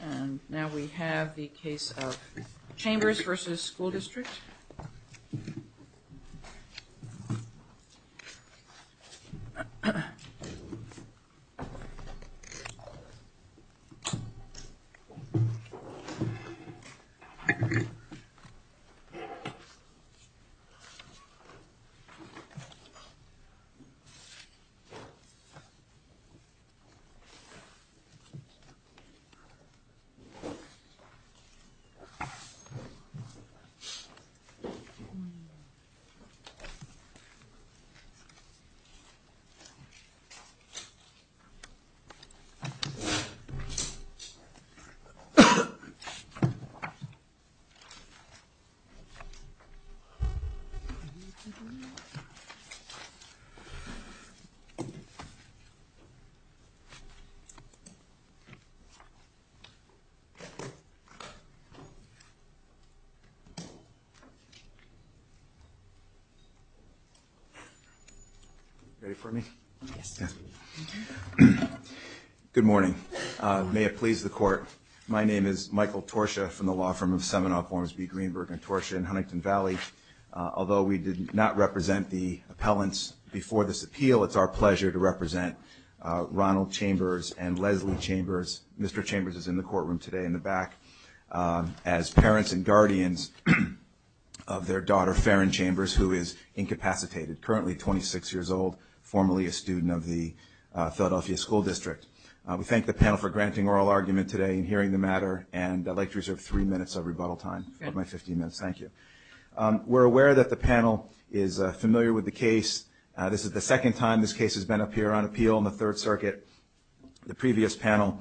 And now we have the case of Chambers Vs. School District. The case of Chambers Vs. School District of Philadelphia. Good morning. May it please the Court. My name is Michael Torsha from the law firm of Seminoff, Ormsby, Greenberg, and Torsha in Huntington Valley. Although we did not represent the appellants before this appeal, it's our pleasure to represent Ronald Chambers and Leslie Chambers. Mr. Chambers is in the courtroom today in the back. As parents and guardians of their daughter, Farron Chambers, who is incapacitated, currently 26 years old, formerly a student of the Philadelphia School District. We thank the panel for granting oral argument today and hearing the matter. And I'd like to reserve three minutes of rebuttal time of my 15 minutes. Thank you. We're aware that the panel is familiar with the case. This is the second time this case has been up here on appeal in the Third Circuit. The previous panel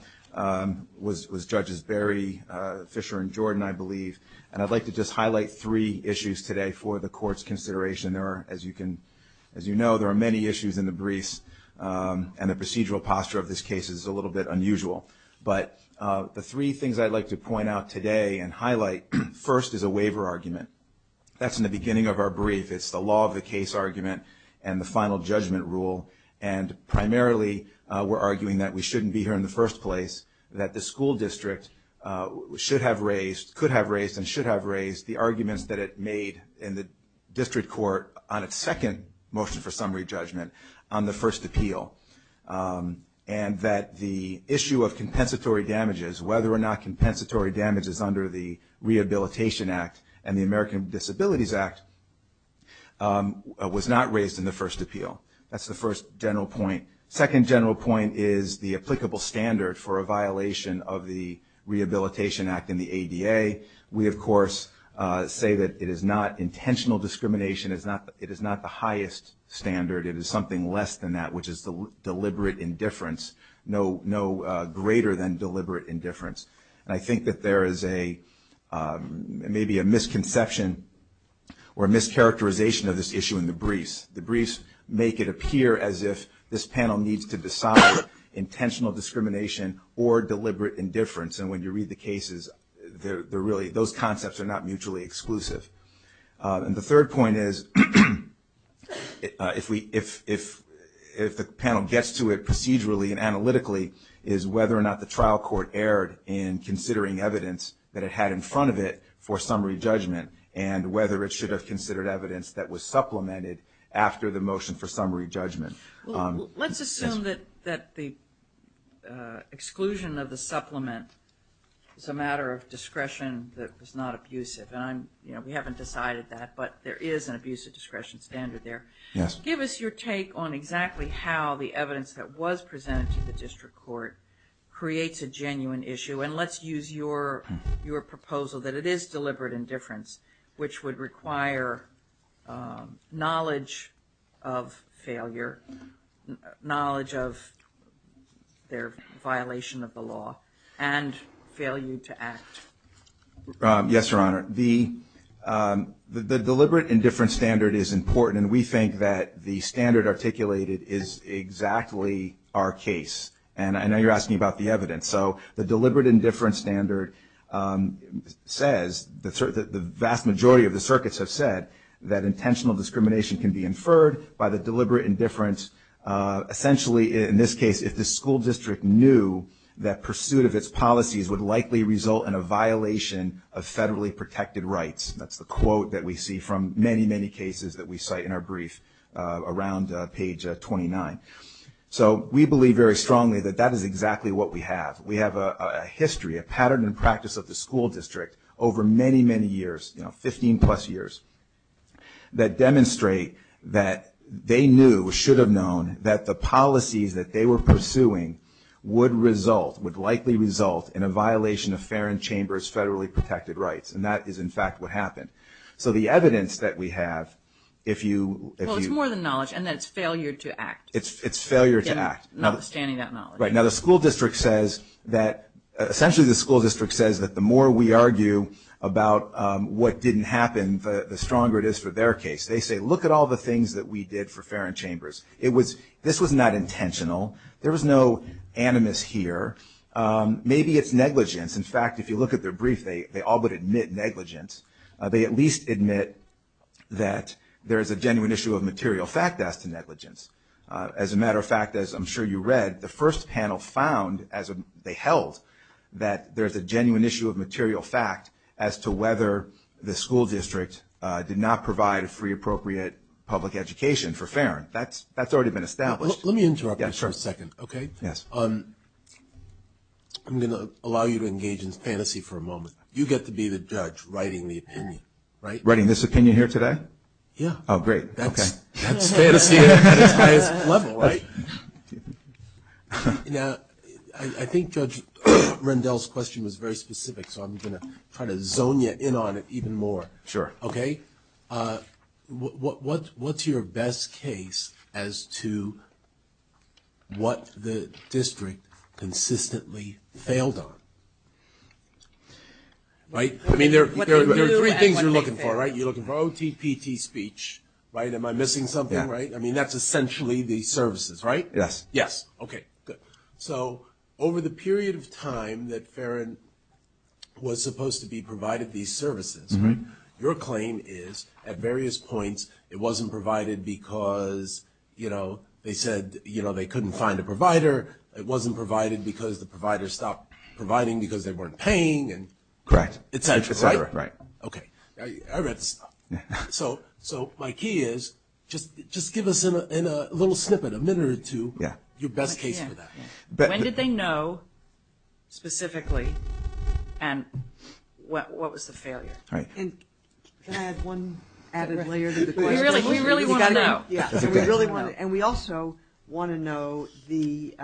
was Judges Berry, Fisher, and Jordan, I believe. And I'd like to just highlight three issues today for the Court's consideration. As you know, there are many issues in the briefs, and the procedural posture of this case is a little bit unusual. But the three things I'd like to point out today and highlight first is a waiver argument. That's in the beginning of our brief. It's the law of the case argument and the final judgment rule. And primarily we're arguing that we shouldn't be here in the first place, that the school district should have raised, could have raised, and should have raised the arguments that it made in the district court on its second motion for summary judgment on the first appeal. And that the issue of compensatory damages, whether or not compensatory damage is under the Rehabilitation Act and the American Disabilities Act, was not raised in the first appeal. That's the first general point. Second general point is the applicable standard for a violation of the Rehabilitation Act and the ADA. We, of course, say that it is not intentional discrimination. It is not the highest standard. It is something less than that, which is deliberate indifference, no greater than deliberate indifference. And I think that there is maybe a misconception or a mischaracterization of this issue in the briefs. The briefs make it appear as if this panel needs to decide intentional discrimination or deliberate indifference. And when you read the cases, those concepts are not mutually exclusive. And the third point is, if the panel gets to it procedurally and analytically, is whether or not the trial court erred in considering evidence that it had in front of it for summary judgment and whether it should have considered evidence that was supplemented after the motion for summary judgment. Let's assume that the exclusion of the supplement is a matter of discretion that was not abusive. And we haven't decided that, but there is an abusive discretion standard there. Yes. Give us your take on exactly how the evidence that was presented to the district court creates a genuine issue. And let's use your proposal that it is deliberate indifference, which would require knowledge of failure, knowledge of their violation of the law, and failure to act. Yes, Your Honor. The deliberate indifference standard is important, and we think that the standard articulated is exactly our case. And I know you're asking about the evidence. So the deliberate indifference standard says, the vast majority of the circuits have said, that intentional discrimination can be inferred by the deliberate indifference. Essentially, in this case, if the school district knew that pursuit of its policies would likely result in a violation of federally protected rights. That's the quote that we see from many, many cases that we cite in our brief around page 29. So we believe very strongly that that is exactly what we have. We have a history, a pattern and practice of the school district over many, many years, 15 plus years, that demonstrate that they knew, should have known, that the policies that they were pursuing would result, would likely result in a violation of Farron Chamber's federally protected rights. And that is, in fact, what happened. So the evidence that we have, if you... Well, it's more than knowledge, in that it's failure to act. It's failure to act. Notwithstanding that knowledge. Right. Now the school district says that, essentially the school district says that the more we argue about what didn't happen, the stronger it is for their case. They say, look at all the things that we did for Farron Chambers. This was not intentional. There was no animus here. Maybe it's negligence. In fact, if you look at their brief, they all but admit negligence. They at least admit that there is a genuine issue of material fact as to negligence. As a matter of fact, as I'm sure you read, the first panel found, as they held, that there is a genuine issue of material fact as to whether the school district did not provide a free, appropriate public education for Farron. That's already been established. Let me interrupt you for a second, okay? Yes. I'm going to allow you to engage in fantasy for a moment. You get to be the judge writing the opinion, right? Writing this opinion here today? Yeah. Oh, great. That's fantasy at its highest level, right? Now, I think Judge Rendell's question was very specific, so I'm going to try to zone you in on it even more. Sure. Okay? What's your best case as to what the district consistently failed on? I mean, there are three things you're looking for, right? You're looking for OTPT speech, right? Am I missing something, right? Yeah. And that's essentially the services, right? Yes. Yes. Okay, good. So over the period of time that Farron was supposed to be provided these services, right, your claim is, at various points, it wasn't provided because, you know, they said, you know, they couldn't find a provider. It wasn't provided because the providers stopped providing because they weren't paying. Correct. Right? Right. Okay. I read this stuff. So my key is, just give us a little snippet, a minute or two, your best case for that. When did they know, specifically, and what was the failure? Can I add one added layer to the question? We really want to know. And we also want to know the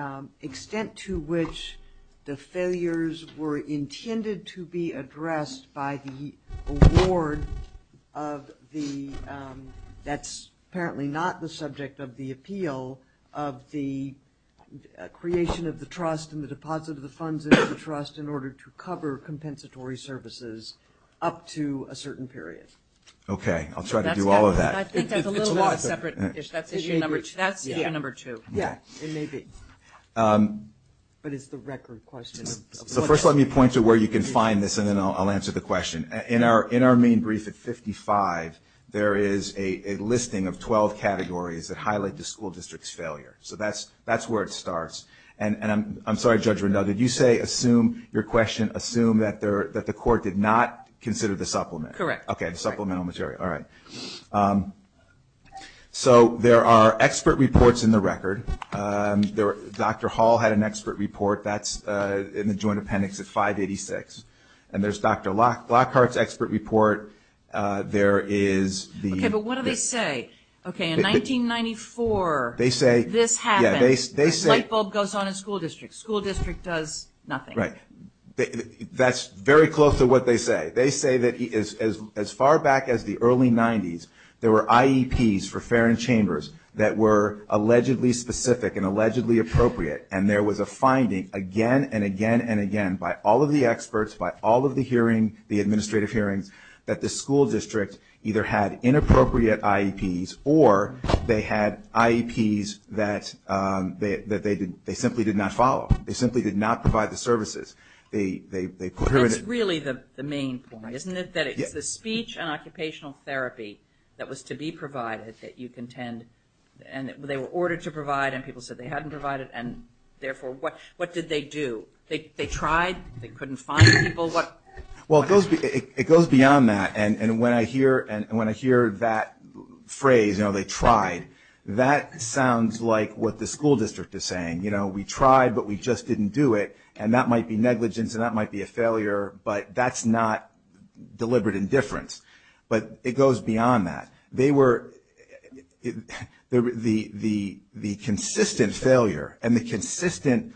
extent to which the failures were intended to be addressed by the award of the, that's apparently not the subject of the appeal, of the creation of the trust and the deposit of the funds into the trust in order to cover compensatory services up to a certain period. Okay. I'll try to do all of that. I think that's a little bit of a separate issue. That's issue number two. Yeah, it may be. But it's the record question. So first let me point to where you can find this, and then I'll answer the question. In our main brief at 55, there is a listing of 12 categories that highlight the school district's failure. So that's where it starts. And I'm sorry, Judge Rendell, did you say assume, your question, assume that the court did not consider the supplement? Correct. Okay, the supplemental material. All right. So there are expert reports in the record. Dr. Hall had an expert report. That's in the joint appendix at 586. And there's Dr. Lockhart's expert report. There is the ____. Okay, but what do they say? Okay, in 1994, this happened. Yeah, they say ____ goes on in school districts. School district does nothing. Right. That's very close to what they say. They say that as far back as the early 90s, there were IEPs for fair and chambers that were allegedly specific and allegedly appropriate, and there was a finding again and again and again by all of the experts, by all of the hearing, the administrative hearings, that the school district either had inappropriate IEPs or they had IEPs that they simply did not follow. They simply did not provide the services. That's really the main point, isn't it? That it's the speech and occupational therapy that was to be provided that you contend, and they were ordered to provide and people said they hadn't provided, and therefore what did they do? They tried. They couldn't find people. Well, it goes beyond that. And when I hear that phrase, you know, they tried, that sounds like what the school district is saying. You know, we tried but we just didn't do it, and that might be negligence and that might be a failure, but that's not deliberate indifference. But it goes beyond that. They were the consistent failure and the consistent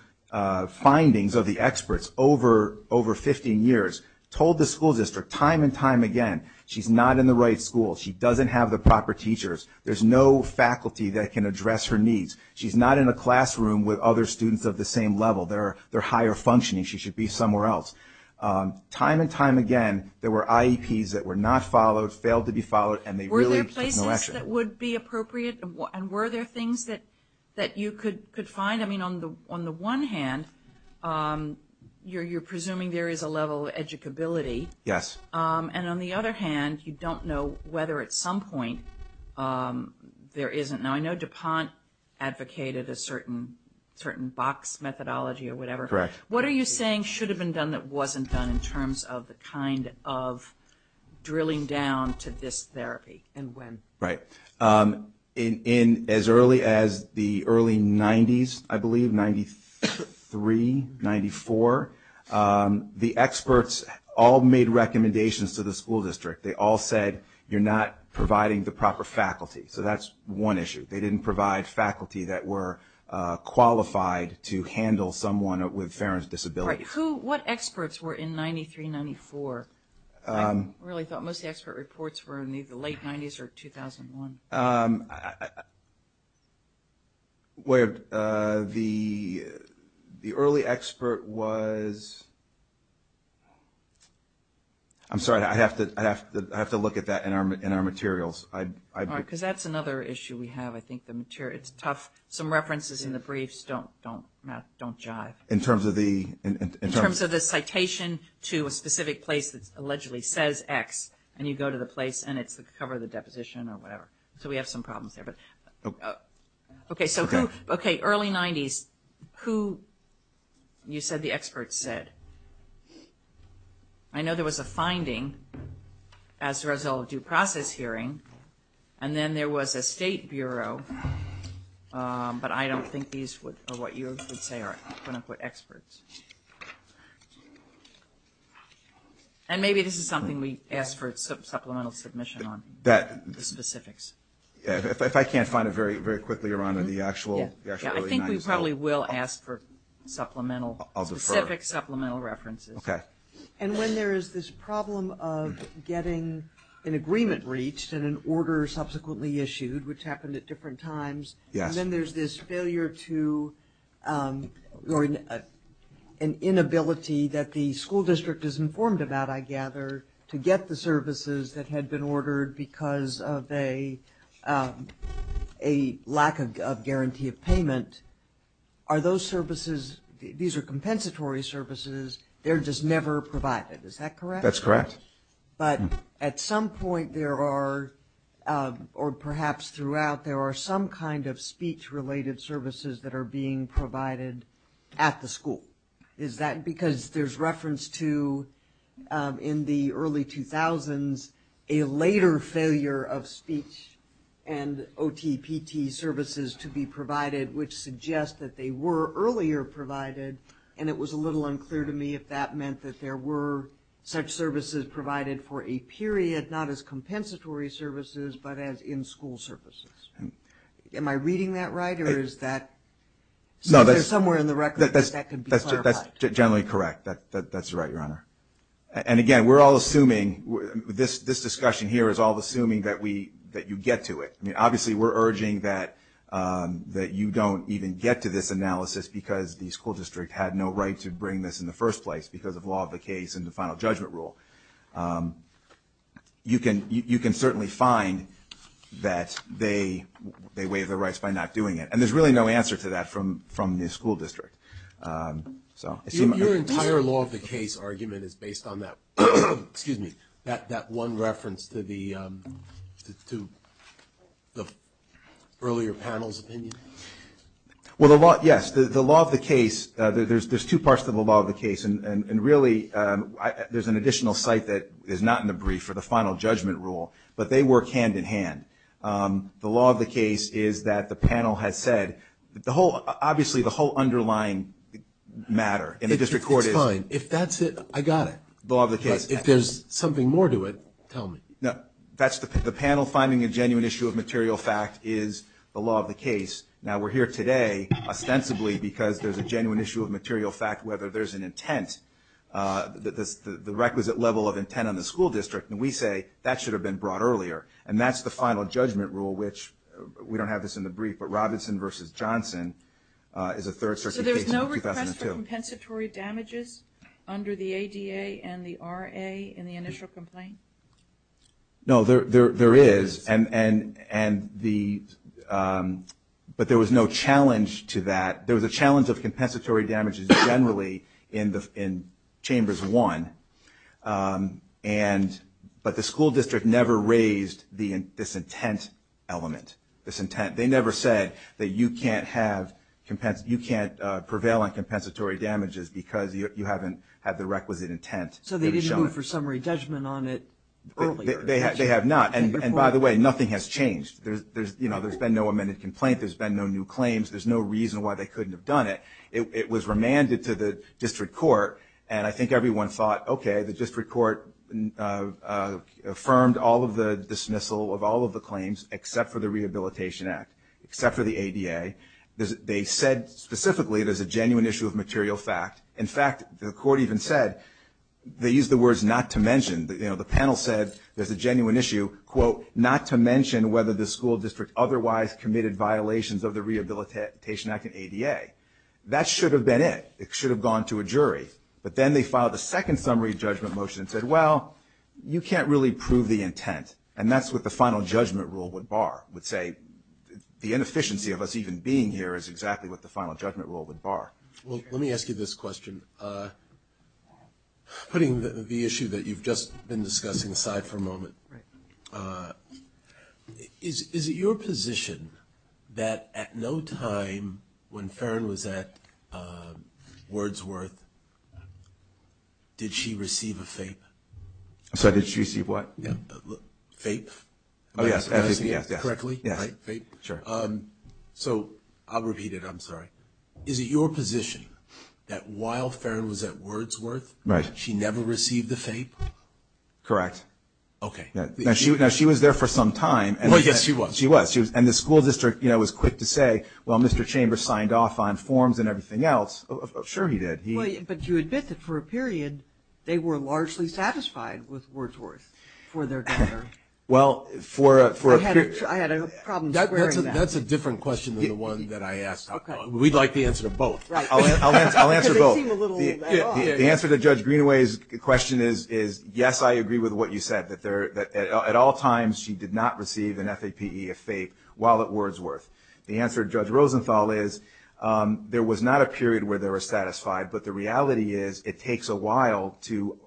findings of the experts over 15 years told the school district time and time again she's not in the right school, she doesn't have the proper teachers, there's no faculty that can address her needs, she's not in a classroom with other students of the same level, they're higher functioning, she should be somewhere else. Time and time again there were IEPs that were not followed, failed to be followed, and they really had no action. Were there places that would be appropriate and were there things that you could find? I mean, on the one hand, you're presuming there is a level of educability. Yes. And on the other hand, you don't know whether at some point there isn't. Now, I know DuPont advocated a certain box methodology or whatever. Correct. What are you saying should have been done that wasn't done in terms of the kind of drilling down to this therapy and when? Right. In as early as the early 90s, I believe, 93, 94, the experts all made recommendations to the school district. They all said, you're not providing the proper faculty. So that's one issue. They didn't provide faculty that were qualified to handle someone with Farron's disability. All right. What experts were in 93, 94? I really thought most of the expert reports were in the late 90s or 2001. The early expert was – I'm sorry. I have to look at that in our materials. All right, because that's another issue we have. I think the material – it's tough. Some references in the briefs don't jive. In terms of the – In terms of the citation to a specific place that allegedly says X, and you go to the place and it's the cover of the deposition or whatever. So we have some problems there. Okay, early 90s, who you said the experts said? I know there was a finding as a result of due process hearing, and then there was a state bureau, but I don't think these are what you would say are experts. And maybe this is something we ask for supplemental submission on, the specifics. If I can't find it very quickly, Your Honor, the actual – Yeah, I think we probably will ask for supplemental – I'll defer. Specific supplemental references. Okay. And when there is this problem of getting an agreement reached and an order subsequently issued, which happened at different times. Yes. And then there's this failure to – or an inability that the school district is informed about, I gather, to get the services that had been ordered because of a lack of guarantee of payment. Are those services – these are compensatory services. They're just never provided. Is that correct? That's correct. But at some point there are, or perhaps throughout, there are some kind of speech-related services that are being provided at the school. Is that because there's reference to, in the early 2000s, a later failure of speech and OTPT services to be provided, which suggests that they were earlier provided, and it was a little unclear to me if that meant that there were such services provided for a period, not as compensatory services, but as in-school services. Am I reading that right, or is that – No, that's – Is there somewhere in the record that that could be clarified? That's generally correct. That's right, Your Honor. And, again, we're all assuming – this discussion here is all assuming that you get to it. I mean, obviously we're urging that you don't even get to this analysis because the school district had no right to bring this in the first place because of law of the case and the final judgment rule. You can certainly find that they waive the rights by not doing it, and there's really no answer to that from the school district. Your entire law of the case argument is based on that one reference to the earlier panel's opinion? Well, yes. The law of the case – there's two parts to the law of the case, and really there's an additional site that is not in the brief for the final judgment rule, but they work hand-in-hand. The law of the case is that the panel has said – obviously the whole underlying matter in the district court is – It's fine. If that's it, I got it. The law of the case. If there's something more to it, tell me. The panel finding a genuine issue of material fact is the law of the case. Now, we're here today ostensibly because there's a genuine issue of material fact, whether there's an intent, the requisite level of intent on the school district, and we say that should have been brought earlier. And that's the final judgment rule, which we don't have this in the brief, but Robinson v. Johnson is a third-circuit case from 2002. Is there a challenge to compensatory damages under the ADA and the RA in the initial complaint? No, there is, but there was no challenge to that. There was a challenge of compensatory damages generally in Chambers 1, but the school district never raised this intent element, this intent. They never said that you can't have – you can't prevail on compensatory damages because you haven't had the requisite intent. So they didn't move for summary judgment on it earlier? They have not. And by the way, nothing has changed. There's been no amended complaint. There's been no new claims. There's no reason why they couldn't have done it. By the way, the district court affirmed all of the dismissal of all of the claims except for the Rehabilitation Act, except for the ADA. They said specifically there's a genuine issue of material fact. In fact, the court even said – they used the words not to mention. You know, the panel said there's a genuine issue, quote, not to mention whether the school district otherwise committed violations of the Rehabilitation Act and ADA. It should have gone to a jury. But then they filed a second summary judgment motion and said, well, you can't really prove the intent. And that's what the final judgment rule would bar, would say. The inefficiency of us even being here is exactly what the final judgment rule would bar. Well, let me ask you this question. Putting the issue that you've just been discussing aside for a moment, is it your position that at no time when Farron was at Wordsworth, did she receive a FAPE? I'm sorry, did she receive what? FAPE. Oh, yes, FAPE, yes. Correctly, right? FAPE. Sure. So I'll repeat it. I'm sorry. Is it your position that while Farron was at Wordsworth, she never received the FAPE? Correct. Okay. Now, she was there for some time. Well, yes, she was. She was. And the school district was quick to say, well, Mr. Chambers signed off on forms and everything else. Sure he did. But you admit that for a period they were largely satisfied with Wordsworth for their daughter. Well, for a period. I had a problem squaring that. That's a different question than the one that I asked. Okay. We'd like the answer to both. I'll answer both. Because they seem a little off. The answer to Judge Greenaway's question is, yes, I agree with what you said, that at all times she did not receive an FAPE of FAPE while at Wordsworth. The answer to Judge Rosenthal is there was not a period where they were satisfied, but the reality is it takes a while to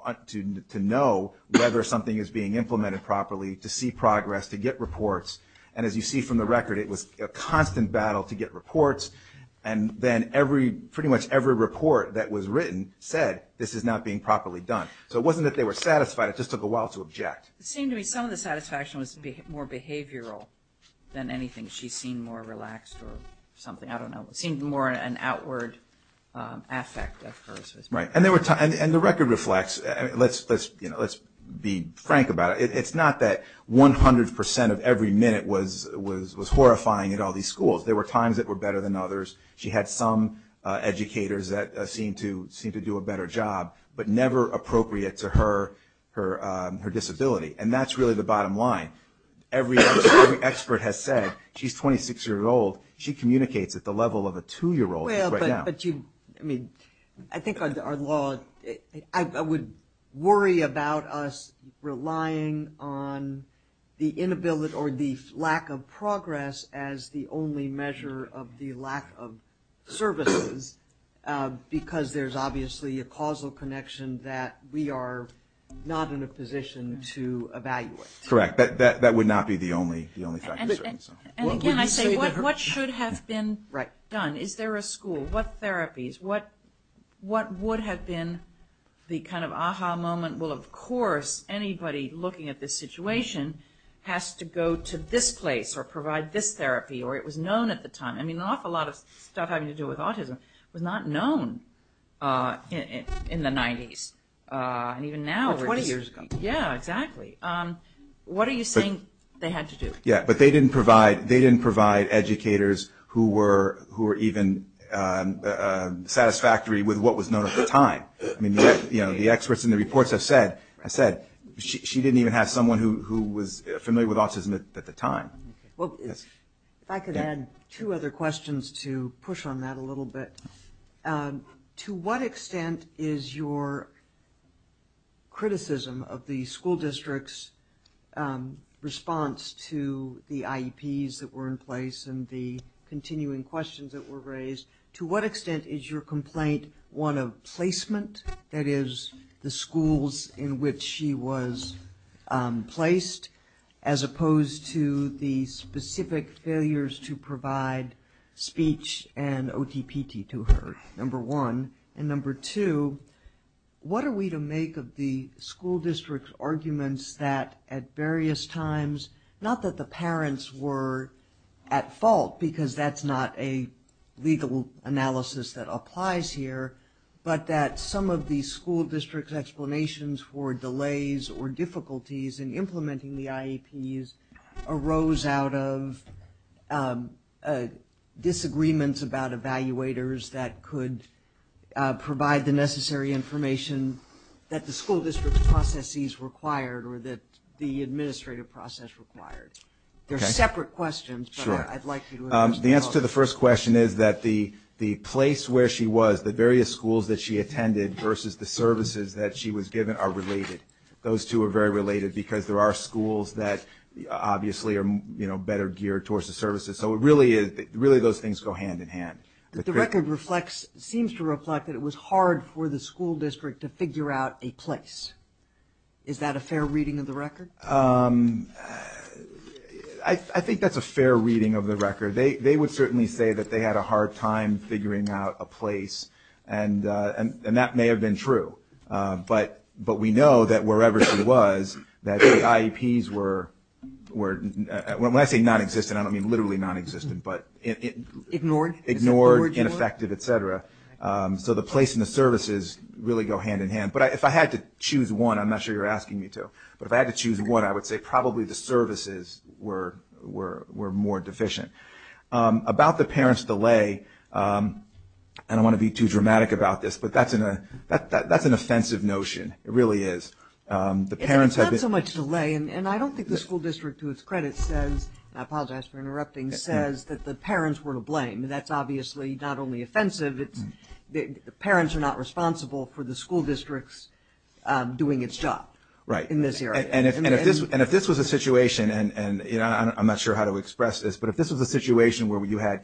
know whether something is being implemented properly, to see progress, to get reports. And as you see from the record, it was a constant battle to get reports. And then pretty much every report that was written said this is not being properly done. So it wasn't that they were satisfied. It just took a while to object. It seemed to me some of the satisfaction was more behavioral than anything. She seemed more relaxed or something. I don't know. It seemed more an outward affect of hers. Right. And the record reflects. Let's be frank about it. It's not that 100% of every minute was horrifying at all these schools. There were times that were better than others. She had some educators that seemed to do a better job, but never appropriate to her disability. And that's really the bottom line. Every expert has said she's a 26-year-old. She communicates at the level of a 2-year-old right now. But I think our law, I would worry about us relying on the inability or the lack of progress as the only measure of the lack of services because there's obviously a causal connection that we are not in a position to evaluate. Correct. That would not be the only factor. And again, I say what should have been done? Is there a school? What therapies? What would have been the kind of aha moment? Well, of course, anybody looking at this situation has to go to this place or provide this therapy or it was known at the time. I mean, an awful lot of stuff having to do with autism was not known in the 90s. Or 20 years ago. Yeah, exactly. What are you saying they had to do? Yeah, but they didn't provide educators who were even satisfactory with what was known at the time. The experts in the reports have said she didn't even have someone who was familiar with autism at the time. If I could add two other questions to push on that a little bit. To what extent is your criticism of the school district's response to the IEPs that were in place and the continuing questions that were raised, to what extent is your complaint one of placement, that is the schools in which she was placed, as opposed to the specific failures to provide speech and OTPT to her, number one? And number two, what are we to make of the school district's arguments that at various times, not that the parents were at fault because that's not a legal analysis that applies here, but that some of the school district's explanations for delays or difficulties in implementing the IEPs arose out of disagreements about evaluators that could provide the necessary information that the school district's processes required or that the administrative process required? They're separate questions, but I'd like you to address them both. Well, to the first question is that the place where she was, the various schools that she attended versus the services that she was given are related. Those two are very related because there are schools that obviously are better geared towards the services, so really those things go hand in hand. The record seems to reflect that it was hard for the school district to figure out a place. Is that a fair reading of the record? I think that's a fair reading of the record. They would certainly say that they had a hard time figuring out a place, and that may have been true. But we know that wherever she was that the IEPs were, when I say nonexistent, I don't mean literally nonexistent, but ignored, ineffective, et cetera. So the place and the services really go hand in hand. But if I had to choose one, I'm not sure you're asking me to, but if I had to choose one, I would say probably the services were more deficient. About the parents' delay, and I don't want to be too dramatic about this, but that's an offensive notion. It really is. It's not so much delay, and I don't think the school district to its credit says, and I apologize for interrupting, says that the parents were to blame. That's obviously not only offensive, the parents are not responsible for the school district's doing its job in this area. And if this was a situation, and I'm not sure how to express this, but if this was a situation where you had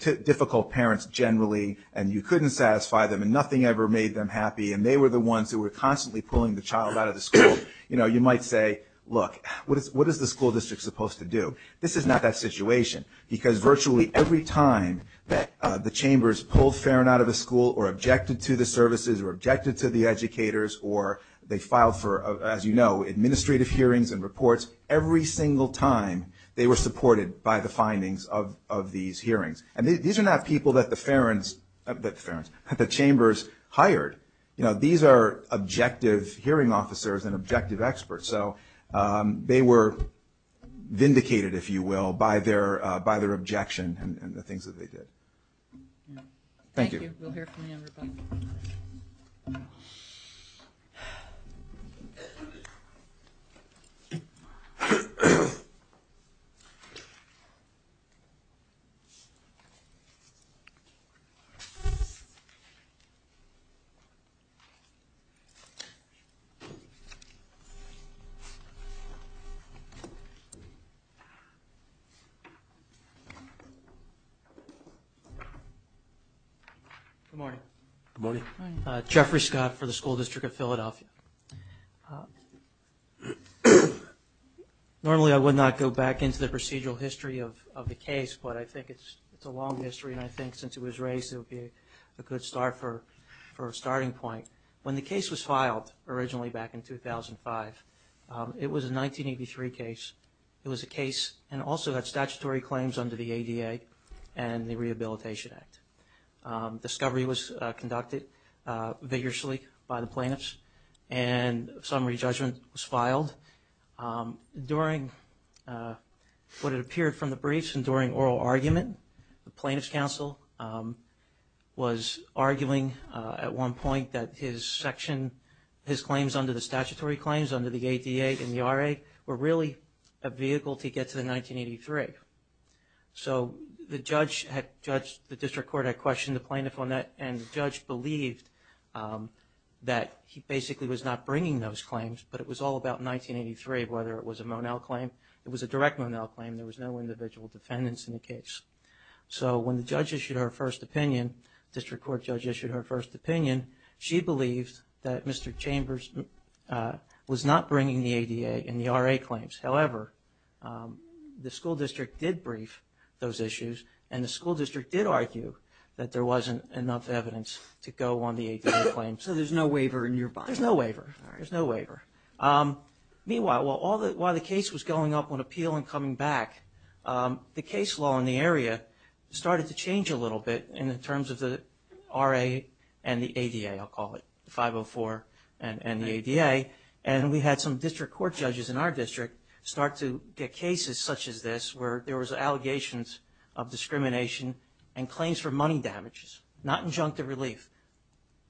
difficult parents generally, and you couldn't satisfy them, and nothing ever made them happy, and they were the ones who were constantly pulling the child out of the school, you might say, look, what is the school district supposed to do? This is not that situation, because virtually every time that the chambers pulled Farron out of the school or objected to the services, or objected to the educators, or they filed for, as you know, administrative hearings and reports, every single time they were supported by the findings of these hearings. And these are not people that the chambers hired. These are objective hearing officers and objective experts. So they were vindicated, if you will, by their objection and the things that they did. Thank you. We'll hear from you. Good morning. Good morning. Jeffrey Scott for the School District of Philadelphia. Normally I would not go back into the procedural history of the case, but I think it's a long history, and I think since it was raised, it would be a good start for a starting point. When the case was filed originally back in 2005, it was a 1983 case. It was a case and also had statutory claims under the ADA and the Rehabilitation Act. Discovery was conducted vigorously by the plaintiffs, and summary judgment was filed. During what had appeared from the briefs and during oral argument, the plaintiffs' counsel was arguing at one point that his section, his claims under the statutory claims under the ADA and the RA, were really a vehicle to get to the 1983. So the district court had questioned the plaintiff on that, and the judge believed that he basically was not bringing those claims, but it was all about 1983, whether it was a Monell claim. It was a direct Monell claim. There was no individual defendants in the case. So when the judge issued her first opinion, district court judge issued her first opinion, she believed that Mr. Chambers was not bringing the ADA and the RA claims. However, the school district did brief those issues, and the school district did argue that there wasn't enough evidence to go on the ADA claims. So there's no waiver in your bond? There's no waiver. Meanwhile, while the case was going up on appeal and coming back, the case law in the area started to change a little bit in terms of the RA and the ADA, I'll call it, the 504 and the ADA. And we had some district court judges in our district start to get cases such as this where there was allegations of discrimination and claims for money damages, not injunctive relief,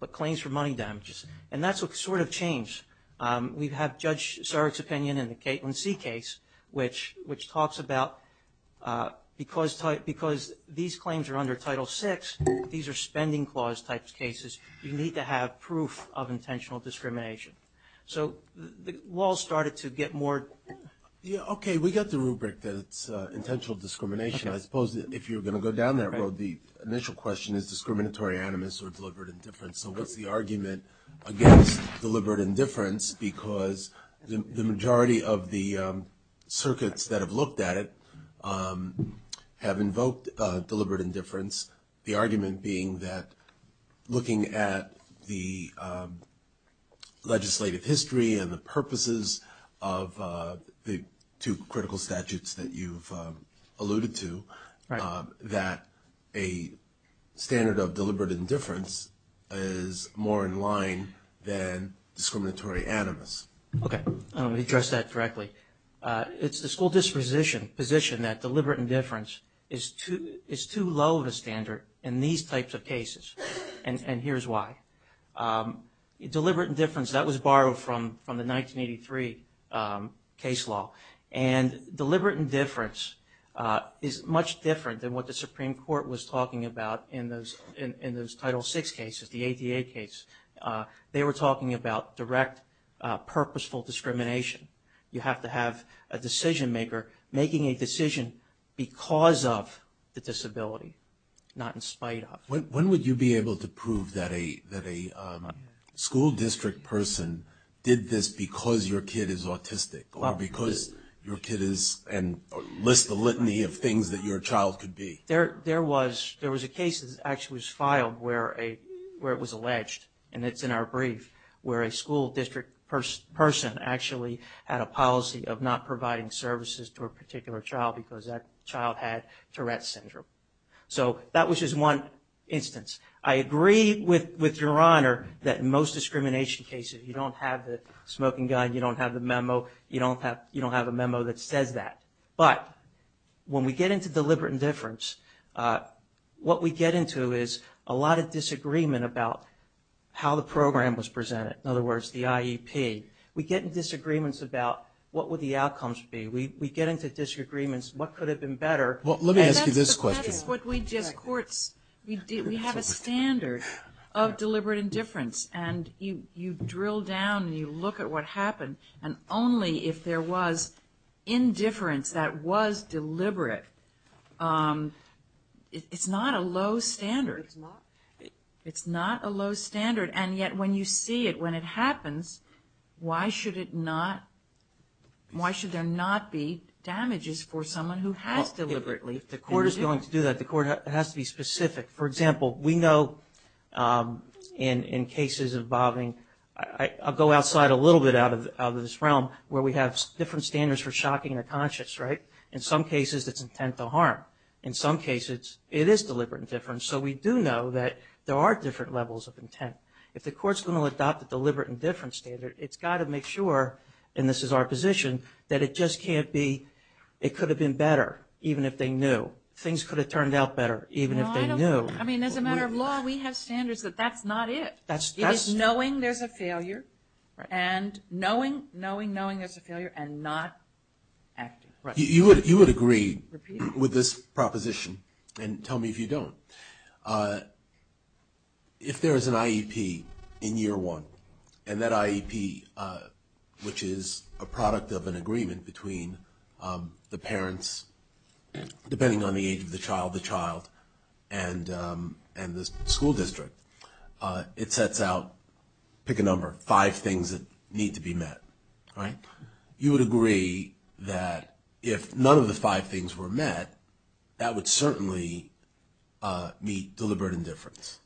but claims for money damages. And that's what sort of changed. We have Judge Sarek's opinion in the Caitlin C. case, which talks about because these claims are under Title VI, these are spending clause type cases, you need to have proof of intentional discrimination. So the law started to get more. Yeah, okay, we got the rubric that it's intentional discrimination. I suppose if you're going to go down that road, the initial question is discriminatory animus or deliberate indifference. So what's the argument against deliberate indifference? Because the majority of the circuits that have looked at it have invoked deliberate indifference, the argument being that looking at the legislative history and the purposes of the two critical statutes that you've alluded to, that a standard of deliberate indifference is more in line than discriminatory animus. Okay, let me address that directly. It's the school disposition position that deliberate indifference is too low of a standard in these types of cases. And here's why. Deliberate indifference, that was borrowed from the 1983 case law. And deliberate indifference is much different than what the Supreme Court was talking about in those Title VI cases, the ADA case. They were talking about direct, purposeful discrimination. You have to have a decision maker making a decision because of the disability, not in spite of. When would you be able to prove that a school district person did this because your kid is autistic or because your kid is and lists the litany of things that your child could be? There was a case that actually was filed where it was alleged, and it's in our brief, where a school district person actually had a policy of not providing services to a particular child because that child had Tourette's syndrome. So that was just one instance. I agree with Your Honor that most discrimination cases, you don't have the smoking guide, you don't have the memo, you don't have a memo that says that. But when we get into deliberate indifference, what we get into is a lot of disagreement about how the program was presented, in other words, the IEP. We get in disagreements about what would the outcomes be. We get into disagreements, what could have been better. Well, let me ask you this question. That's what we just courts, we have a standard of deliberate indifference. And you drill down and you look at what happened. And only if there was indifference that was deliberate, it's not a low standard. It's not. It's not a low standard. And yet when you see it, when it happens, why should it not, why should there not be damages for someone who has deliberately. If the court is going to do that, the court has to be specific. For example, we know in cases involving, I'll go outside a little bit out of this realm, where we have different standards for shocking the conscious, right? In some cases it's intent to harm. In some cases it is deliberate indifference. So we do know that there are different levels of intent. If the court is going to adopt a deliberate indifference standard, it's got to make sure, and this is our position, that it just can't be, it could have been better even if they knew. Things could have turned out better even if they knew. I mean, as a matter of law, we have standards that that's not it. It is knowing there's a failure and knowing, knowing, knowing there's a failure and not acting. You would agree with this proposition, and tell me if you don't. If there is an IEP in year one, and that IEP, which is a product of an agreement between the parents, depending on the age of the child, the child, and the school district, it sets out, pick a number, five things that need to be met, right? You would agree that if none of the five things were met, that would certainly meet deliberate indifference.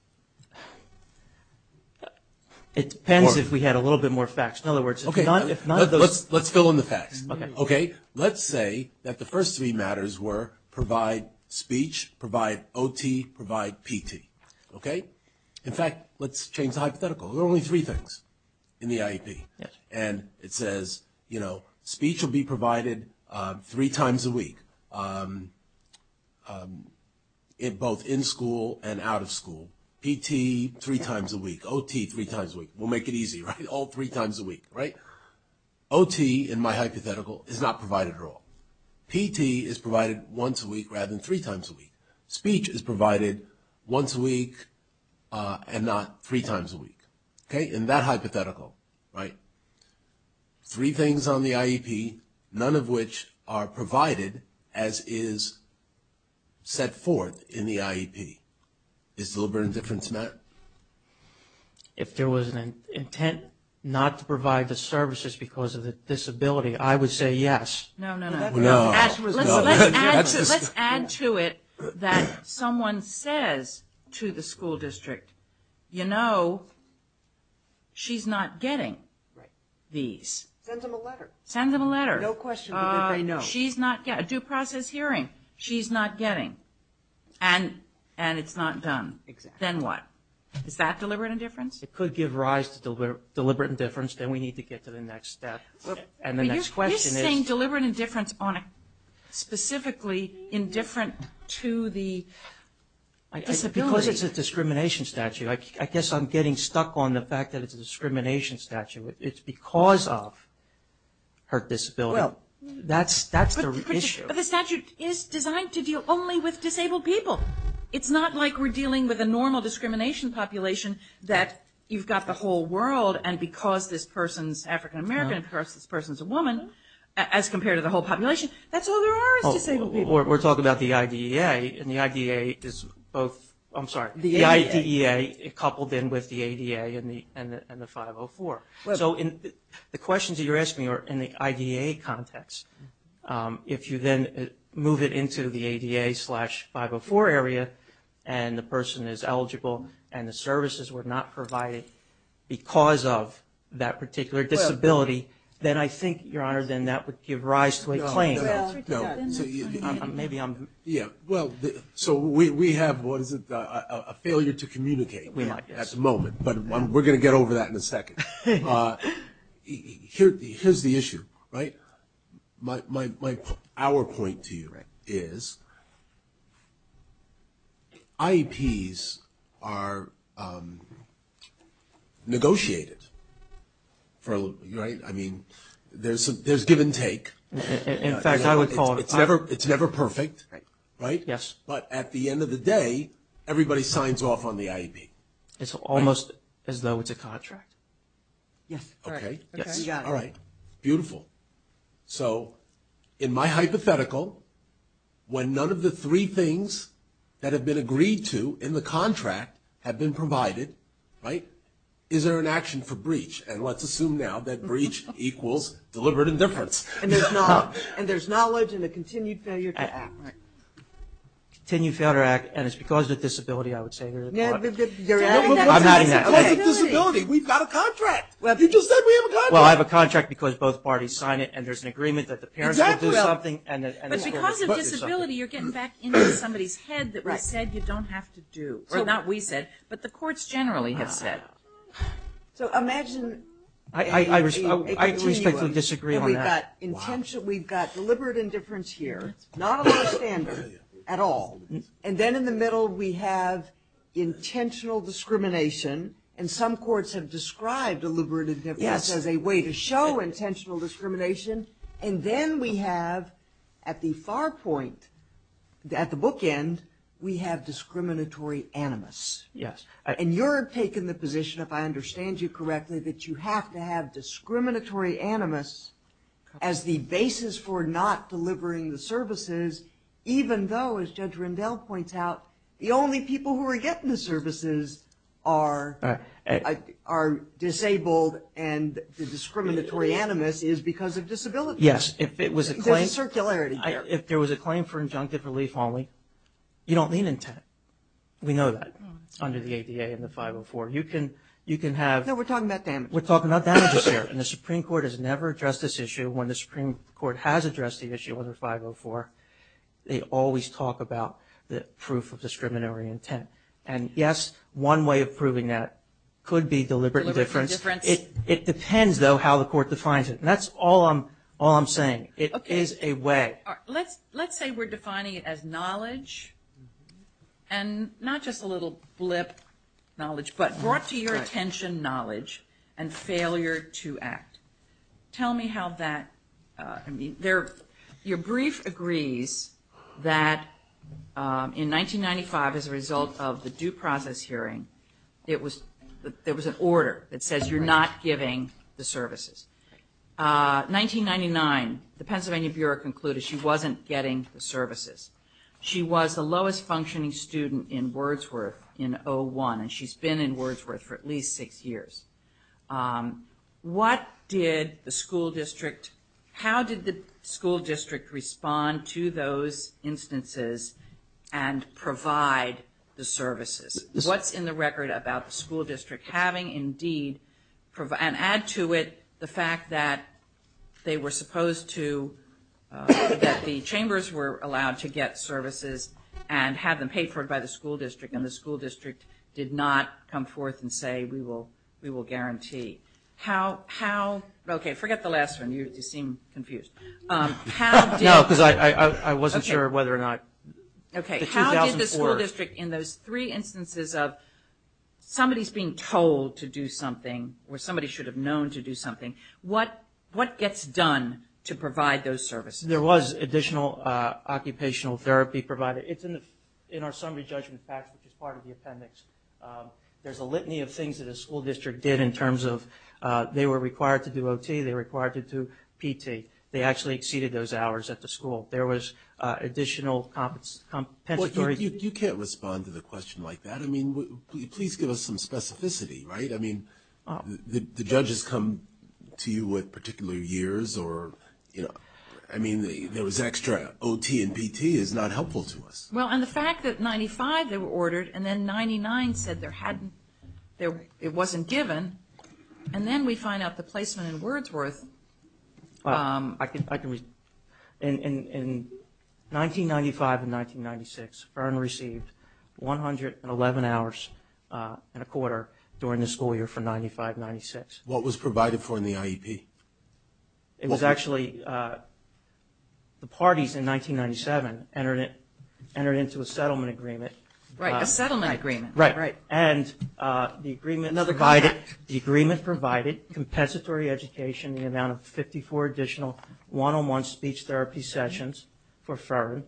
It depends if we had a little bit more facts. In other words, if none of those... Okay, let's fill in the facts. Okay. Let's say that the first three matters were provide speech, provide OT, provide PT. Okay? In fact, let's change the hypothetical. There are only three things in the IEP. And it says, you know, speech will be provided three times a week, both in school and out of school. PT, three times a week. OT, three times a week. We'll make it easy, right? All three times a week, right? OT, in my hypothetical, is not provided at all. PT is provided once a week rather than three times a week. Speech is provided once a week and not three times a week. Okay? In that hypothetical, right, three things on the IEP, none of which are provided as is set forth in the IEP. Is deliberate indifference met? If there was an intent not to provide the services because of the disability, I would say yes. No, no, no. No. Let's add to it that someone says to the school district, you know, she's not getting these. Send them a letter. Send them a letter. No question that they know. She's not getting a due process hearing. She's not getting. And it's not done. Then what? Is that deliberate indifference? It could give rise to deliberate indifference. Then we need to get to the next step. And the next question is. You're saying deliberate indifference on a, specifically indifferent to the disability. Because it's a discrimination statute. I guess I'm getting stuck on the fact that it's a discrimination statute. It's because of her disability. Well. That's the issue. But the statute is designed to deal only with disabled people. It's not like we're dealing with a normal discrimination population that you've got the whole world and because this person's African American and because this person's a woman, as compared to the whole population, that's all there are is disabled people. We're talking about the IDEA. And the IDEA is both. I'm sorry. The ADA. The IDEA coupled in with the ADA and the 504. So the questions that you're asking are in the IDEA context. If you then move it into the ADA slash 504 area and the person is eligible and the services were not provided because of that particular disability, then I think, Your Honor, then that would give rise to a claim. No. No. Maybe I'm. Yeah. Well, so we have, what is it, a failure to communicate. We might. At the moment. But we're going to get over that in a second. Here's the issue, right? Our point to you is IEPs are negotiated. I mean, there's give and take. In fact, I would call it. It's never perfect, right? Yes. But at the end of the day, everybody signs off on the IEP. It's almost as though it's a contract. Yes. Okay. You got it. All right. Beautiful. So in my hypothetical, when none of the three things that have been agreed to in the contract have been provided, right, is there an action for breach? And let's assume now that breach equals deliberate indifference. And there's knowledge and a continued failure to act. Continued failure to act. And it's because of the disability, I would say. I'm not in that. Because of disability. We've got a contract. You just said we have a contract. Well, I have a contract because both parties sign it and there's an agreement that the parents will do something. Exactly. But because of disability, you're getting back into somebody's head that we said you don't have to do. So not we said, but the courts generally have said. So imagine. I respectfully disagree on that. We've got deliberate indifference here, not a lower standard at all. And then in the middle we have intentional discrimination. And some courts have described deliberate indifference as a way to show intentional discrimination. And then we have at the far point, at the bookend, we have discriminatory animus. Yes. And you're taking the position, if I understand you correctly, that you have to have discriminatory animus as the basis for not delivering the services, even though, as Judge Rendell points out, the only people who are getting the services are disabled and the discriminatory animus is because of disability. Yes. There's a circularity there. If there was a claim for injunctive relief only, you don't need intent. We know that under the ADA and the 504. No, we're talking about damages. We're talking about damages here. And the Supreme Court has never addressed this issue. When the Supreme Court has addressed the issue under 504, they always talk about the proof of discriminatory intent. And, yes, one way of proving that could be deliberate indifference. Deliberate indifference. It depends, though, how the court defines it. And that's all I'm saying. It is a way. Let's say we're defining it as knowledge, and not just a little blip knowledge, but brought to your attention knowledge and failure to act. Tell me how that – your brief agrees that in 1995, as a result of the due process hearing, there was an order that says you're not giving the services. 1999, the Pennsylvania Bureau concluded she wasn't getting the services. She was the lowest functioning student in Wordsworth in 01, and she's been in Wordsworth for at least six years. What did the school district – how did the school district respond to those instances and provide the services? What's in the record about the school district having indeed – and add to it the fact that they were supposed to – that the chambers were allowed to get services and have them paid for by the school district, and the school district did not come forth and say we will guarantee. How – okay, forget the last one. You seem confused. How did – No, because I wasn't sure whether or not – Okay, how did the school district in those three instances of somebody's being told to do something or somebody should have known to do something, what gets done to provide those services? There was additional occupational therapy provided. It's in our summary judgment package, which is part of the appendix. There's a litany of things that a school district did in terms of they were required to do OT, they were required to do PT. They actually exceeded those hours at the school. There was additional compensatory – Well, you can't respond to the question like that. I mean, please give us some specificity, right? I mean, the judges come to you with particular years or – I mean, there was extra OT and PT is not helpful to us. Well, and the fact that 95 they were ordered and then 99 said it wasn't given, and then we find out the placement in Wordsworth. I can – in 1995 and 1996, Vern received 111 hours and a quarter during the school year for 95-96. What was provided for in the IEP? It was actually – the parties in 1997 entered into a settlement agreement. Right, a settlement agreement. Right, and the agreement provided compensatory education in the amount of 54 additional one-on-one speech therapy sessions for Vern,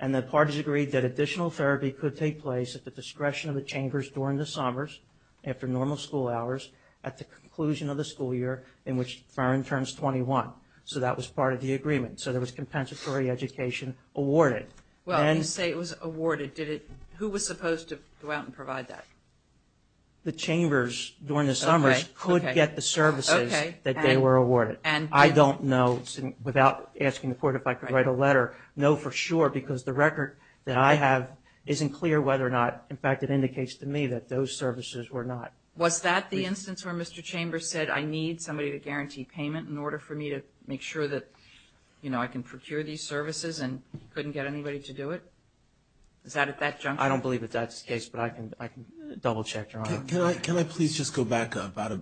and the parties agreed that additional therapy could take place at the discretion of the chambers during the summers after normal school hours at the conclusion of the school year in which Vern turns 21. So that was part of the agreement. So there was compensatory education awarded. Well, you say it was awarded. Who was supposed to go out and provide that? The chambers during the summers could get the services that they were awarded. I don't know, without asking the court if I could write a letter, know for sure because the record that I have isn't clear whether or not – in fact, it indicates to me that those services were not. Was that the instance where Mr. Chambers said, I need somebody to guarantee payment in order for me to make sure that, you know, I can procure these services and couldn't get anybody to do it? Is that at that juncture? I don't believe that that's the case, but I can double-check, Your Honor. Can I please just go back about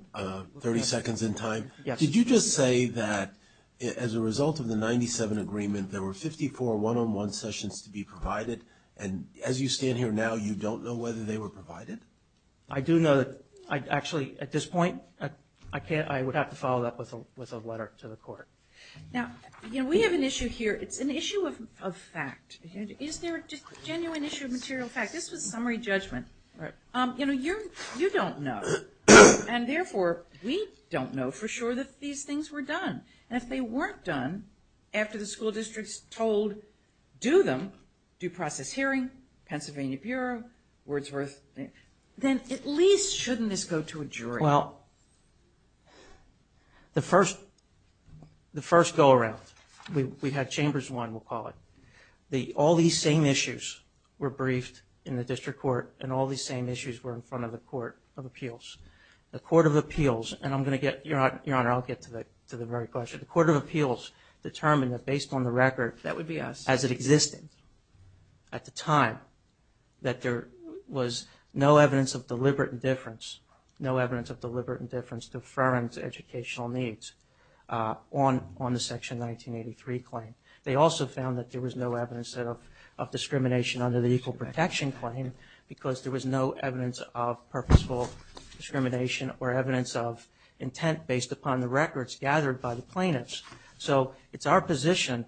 30 seconds in time? Yes. Did you just say that as a result of the 1997 agreement, there were 54 one-on-one sessions to be provided, and as you stand here now you don't know whether they were provided? I do know that actually at this point, I would have to follow that up with a letter to the court. Now, you know, we have an issue here. It's an issue of fact. Is there a genuine issue of material fact? This was summary judgment. You know, you don't know, and therefore, we don't know for sure that these things were done. And if they weren't done after the school districts told, do them, due process hearing, Pennsylvania Bureau, Wordsworth, then at least shouldn't this go to a jury? Well, the first go-around, we had Chambers 1, we'll call it. All these same issues were briefed in the district court, and all these same issues were in front of the Court of Appeals. The Court of Appeals, and I'm going to get, Your Honor, I'll get to the very question. The Court of Appeals determined that based on the record as it existed, at the time, that there was no evidence of deliberate indifference, no evidence of deliberate indifference, deference to educational needs on the Section 1983 claim. They also found that there was no evidence of discrimination under the Equal Protection claim because there was no evidence of purposeful discrimination or evidence of intent based upon the records gathered by the plaintiffs. So, it's our position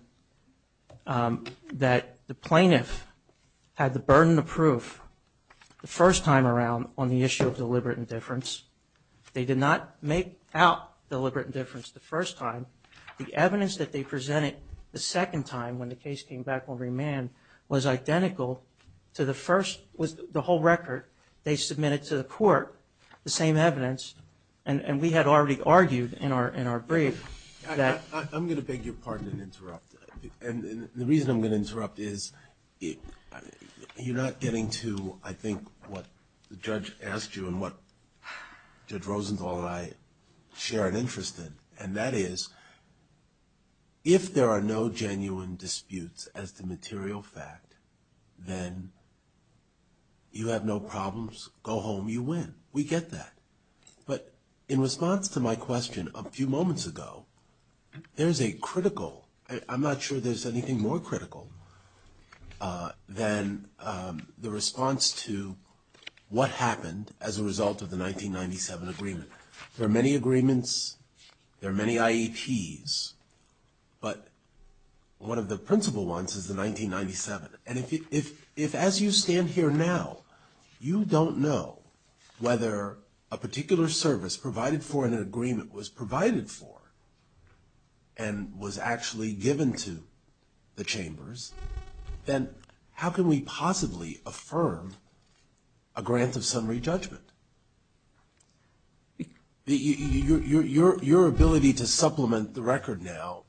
that the plaintiff had the burden of proof the first time around on the issue of deliberate indifference. They did not make out deliberate indifference the first time. The evidence that they presented the second time, when the case came back on remand, was identical to the first, with the whole record. They submitted to the court the same evidence, and we had already argued in our brief that... I'm going to beg your pardon and interrupt. The reason I'm going to interrupt is, you're not getting to, I think, what the judge asked you and what Judge Rosenthal and I share an interest in, and that is, if there are no genuine disputes as to material fact, then you have no problems, go home, you win. We get that. But in response to my question a few moments ago, there's a critical... I'm not sure there's anything more critical than the response to what happened as a result of the 1997 agreement. There are many agreements, there are many IEPs, but one of the principal ones is the 1997. And if, as you stand here now, you don't know whether a particular service provided for in an agreement was provided for and was actually given to the chambers, then how can we possibly affirm a grant of summary judgment? Your ability to supplement the record now,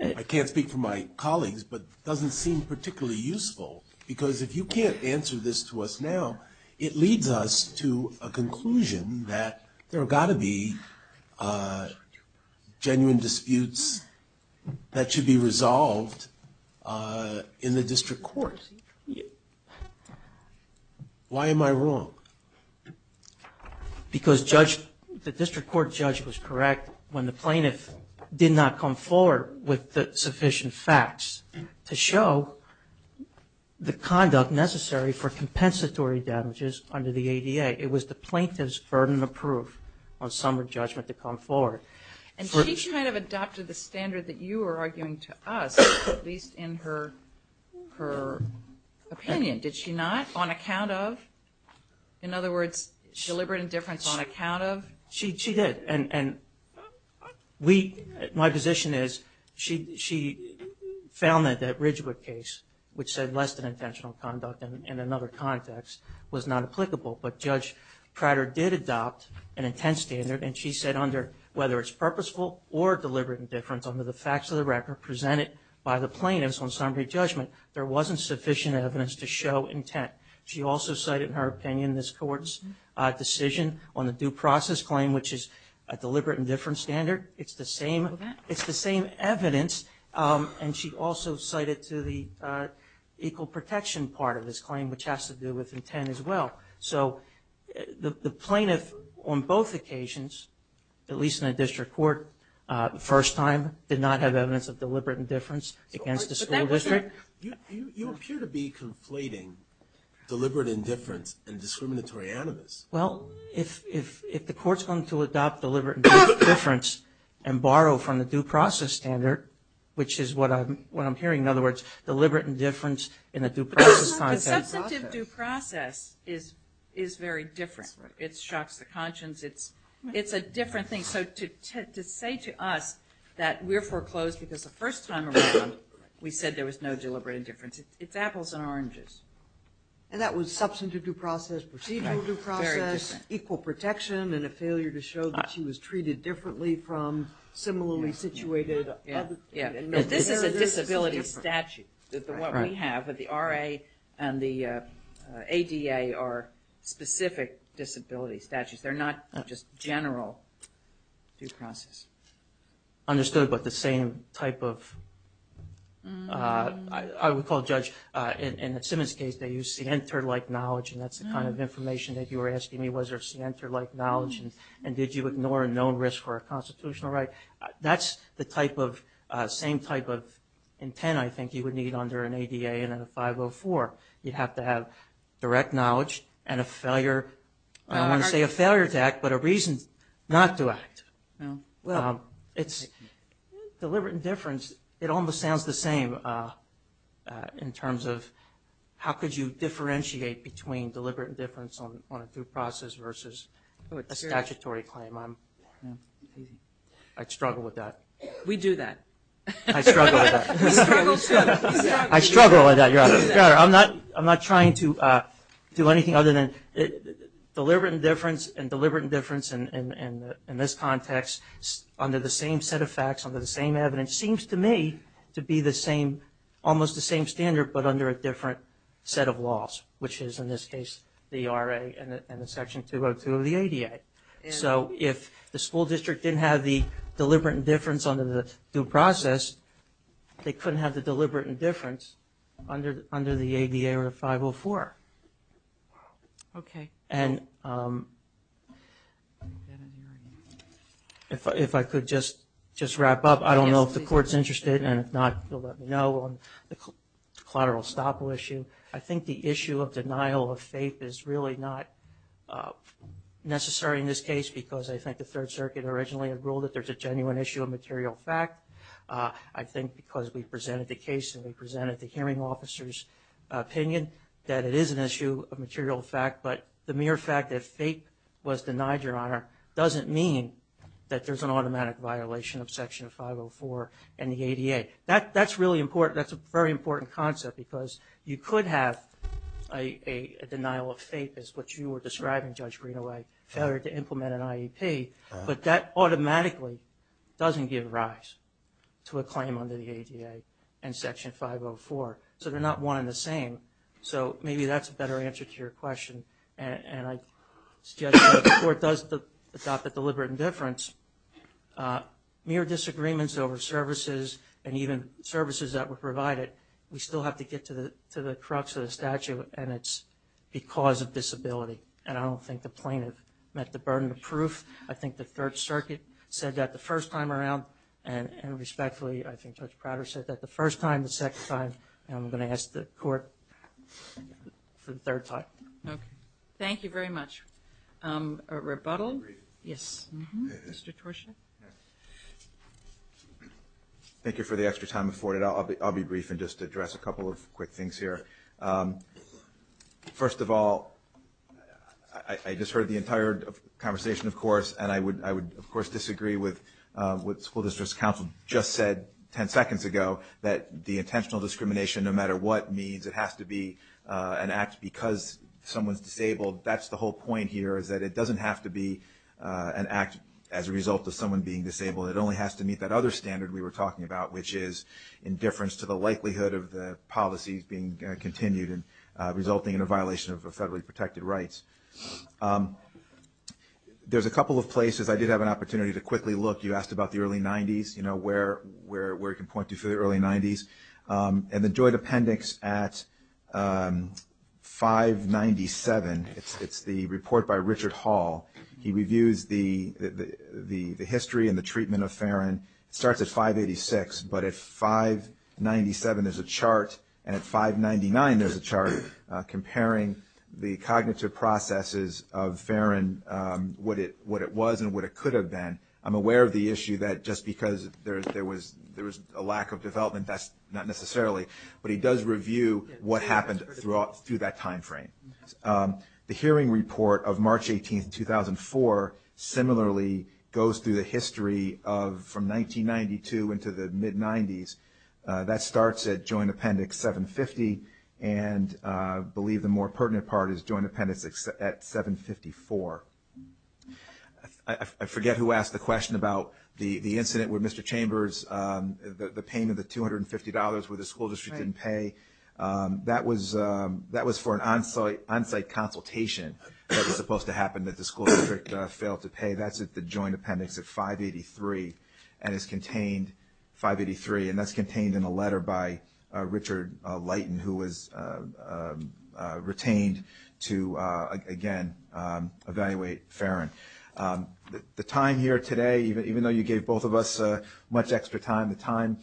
I can't speak for my colleagues, but doesn't seem particularly useful, because if you can't answer this to us now, it leads us to a conclusion that there have got to be genuine disputes that should be resolved in the district court. Why am I wrong? Because the district court judge was correct when the plaintiff did not come forward with sufficient facts to show the conduct necessary for compensatory damages under the ADA. It was the plaintiff's burden of proof on summary judgment to come forward. And she kind of adopted the standard that you were arguing to us, at least in her opinion. Did she not, on account of? In other words, deliberate indifference on account of? She did. And my position is she found that Ridgewood case, which said less than intentional conduct in another context, was not applicable. But Judge Prater did adopt an intense standard, and she said under whether it's purposeful or deliberate indifference under the facts of the record presented by the plaintiffs on summary judgment, there wasn't sufficient evidence to show intent. She also cited in her opinion this Court's decision on the due process claim, which is a deliberate indifference standard. It's the same evidence. And she also cited to the equal protection part of this claim, which has to do with intent as well. So the plaintiff on both occasions, at least in the district court, the first time did not have evidence of deliberate indifference against the school district. You appear to be conflating deliberate indifference and discriminatory animus. Well, if the Court's going to adopt deliberate indifference and borrow from the due process standard, which is what I'm hearing, in other words, deliberate indifference in a due process context. Substantive due process is very different. It shocks the conscience. It's a different thing. So to say to us that we're foreclosed because the first time around we said there was no deliberate indifference, it's apples and oranges. And that was substantive due process, procedural due process, equal protection, and a failure to show that she was treated differently from similarly situated other people. This is a disability statute. What we have with the RA and the ADA are specific disability statutes. They're not just general due process. Understood, but the same type of, I would call judge, in the Simmons case they used scienter-like knowledge, and that's the kind of information that you were asking me, was there scienter-like knowledge, and did you ignore a known risk for a constitutional right? That's the same type of intent I think you would need under an ADA and a 504. You'd have to have direct knowledge and a failure. I don't want to say a failure to act, but a reason not to act. It's deliberate indifference. It almost sounds the same in terms of how could you differentiate between deliberate indifference on a due process versus a statutory claim. I'd struggle with that. We do that. I struggle with that. I struggle with that. I'm not trying to do anything other than deliberate indifference and deliberate indifference in this context under the same set of facts, under the same evidence, seems to me to be the same, almost the same standard but under a different set of laws, which is in this case the RA and the Section 202 of the ADA. So if the school district didn't have the deliberate indifference under the due process, they couldn't have the deliberate indifference under the ADA or 504. If I could just wrap up. I don't know if the Court's interested, and if not, you'll let me know on the collateral estoppel issue. I think the issue of denial of faith is really not necessary in this case because I think the Third Circuit originally had ruled that there's a genuine issue of material fact. I think because we presented the case and we presented the hearing officer's opinion that it is an issue of material fact, but the mere fact that faith was denied, Your Honor, doesn't mean that there's an automatic violation of Section 504 and the ADA. That's a very important concept because you could have a denial of faith, as what you were describing, Judge Greenaway, failure to implement an IEP, but that automatically doesn't give rise to a claim under the ADA and Section 504. So they're not one and the same. So maybe that's a better answer to your question, and I suggest that before it does adopt the deliberate indifference, mere disagreements over services and even services that were provided, we still have to get to the crux of the statute, and it's because of disability. And I don't think the plaintiff met the burden of proof. I think the Third Circuit said that the first time around, and respectfully, I think Judge Prater said that the first time, the second time, and I'm going to ask the Court for the third time. Okay. Thank you very much. A rebuttal? Yes. Mr. Torshaw? Thank you for the extra time afforded. I'll be brief and just address a couple of quick things here. First of all, I just heard the entire conversation, of course, and I would, of course, disagree with what School District Counsel just said ten seconds ago, that the intentional discrimination, no matter what, means it has to be an act because someone's disabled. That's the whole point here, is that it doesn't have to be an act as a result of someone being disabled. It only has to meet that other standard we were talking about, which is indifference to the likelihood of the policies being continued and resulting in a violation of federally protected rights. There's a couple of places I did have an opportunity to quickly look. You asked about the early 90s, you know, where it can point to for the early 90s. And the joint appendix at 597, it's the report by Richard Hall. He reviews the history and the treatment of Farron. It starts at 586, but at 597 there's a chart, and at 599 there's a chart comparing the cognitive processes of Farron, what it was and what it could have been. I'm aware of the issue that just because there was a lack of development, that's not necessarily, but he does review what happened through that time frame. The hearing report of March 18th, 2004, similarly goes through the history from 1992 into the mid-90s. That starts at joint appendix 750, and I believe the more pertinent part is joint appendix at 754. I forget who asked the question about the incident with Mr. Chambers, the pain of the $250 where the school district didn't pay. That was for an on-site consultation that was supposed to happen and the school district failed to pay. That's at the joint appendix at 583, and it's contained 583, and that's contained in a letter by Richard Leighton, who was retained to, again, evaluate Farron. The time here today, even though you gave both of us much extra time, the time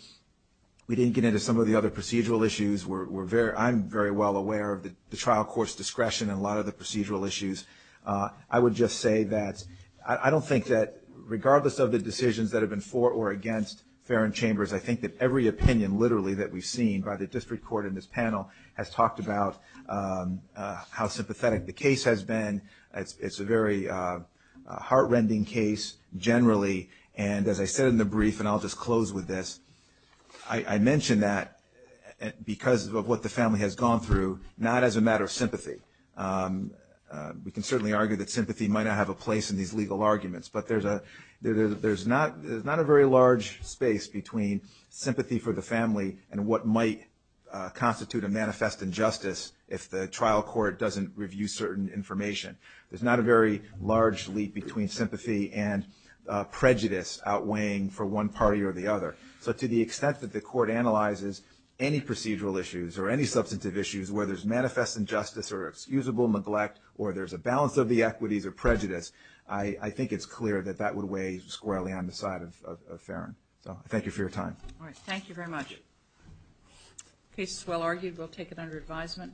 we didn't get into some of the other procedural issues. I'm very well aware of the trial court's discretion in a lot of the procedural issues. I would just say that I don't think that regardless of the decisions that have been for or against Farron Chambers, I think that every opinion literally that we've seen by the district court in this panel has talked about how sympathetic the case has been. It's a very heart-rending case generally, and as I said in the brief, and I'll just close with this, I mention that because of what the family has gone through, not as a matter of sympathy. We can certainly argue that sympathy might not have a place in these legal arguments, but there's not a very large space between sympathy for the family and what might constitute a manifest injustice if the trial court doesn't review certain information. There's not a very large leap between sympathy and prejudice outweighing for one party or the other. So to the extent that the court analyzes any procedural issues or any substantive issues where there's manifest injustice or excusable neglect or there's a balance of the equities or prejudice, I think it's clear that that would weigh squarely on the side of Farron. So I thank you for your time. All right. Thank you very much. The case is well argued. We'll take it under advisement.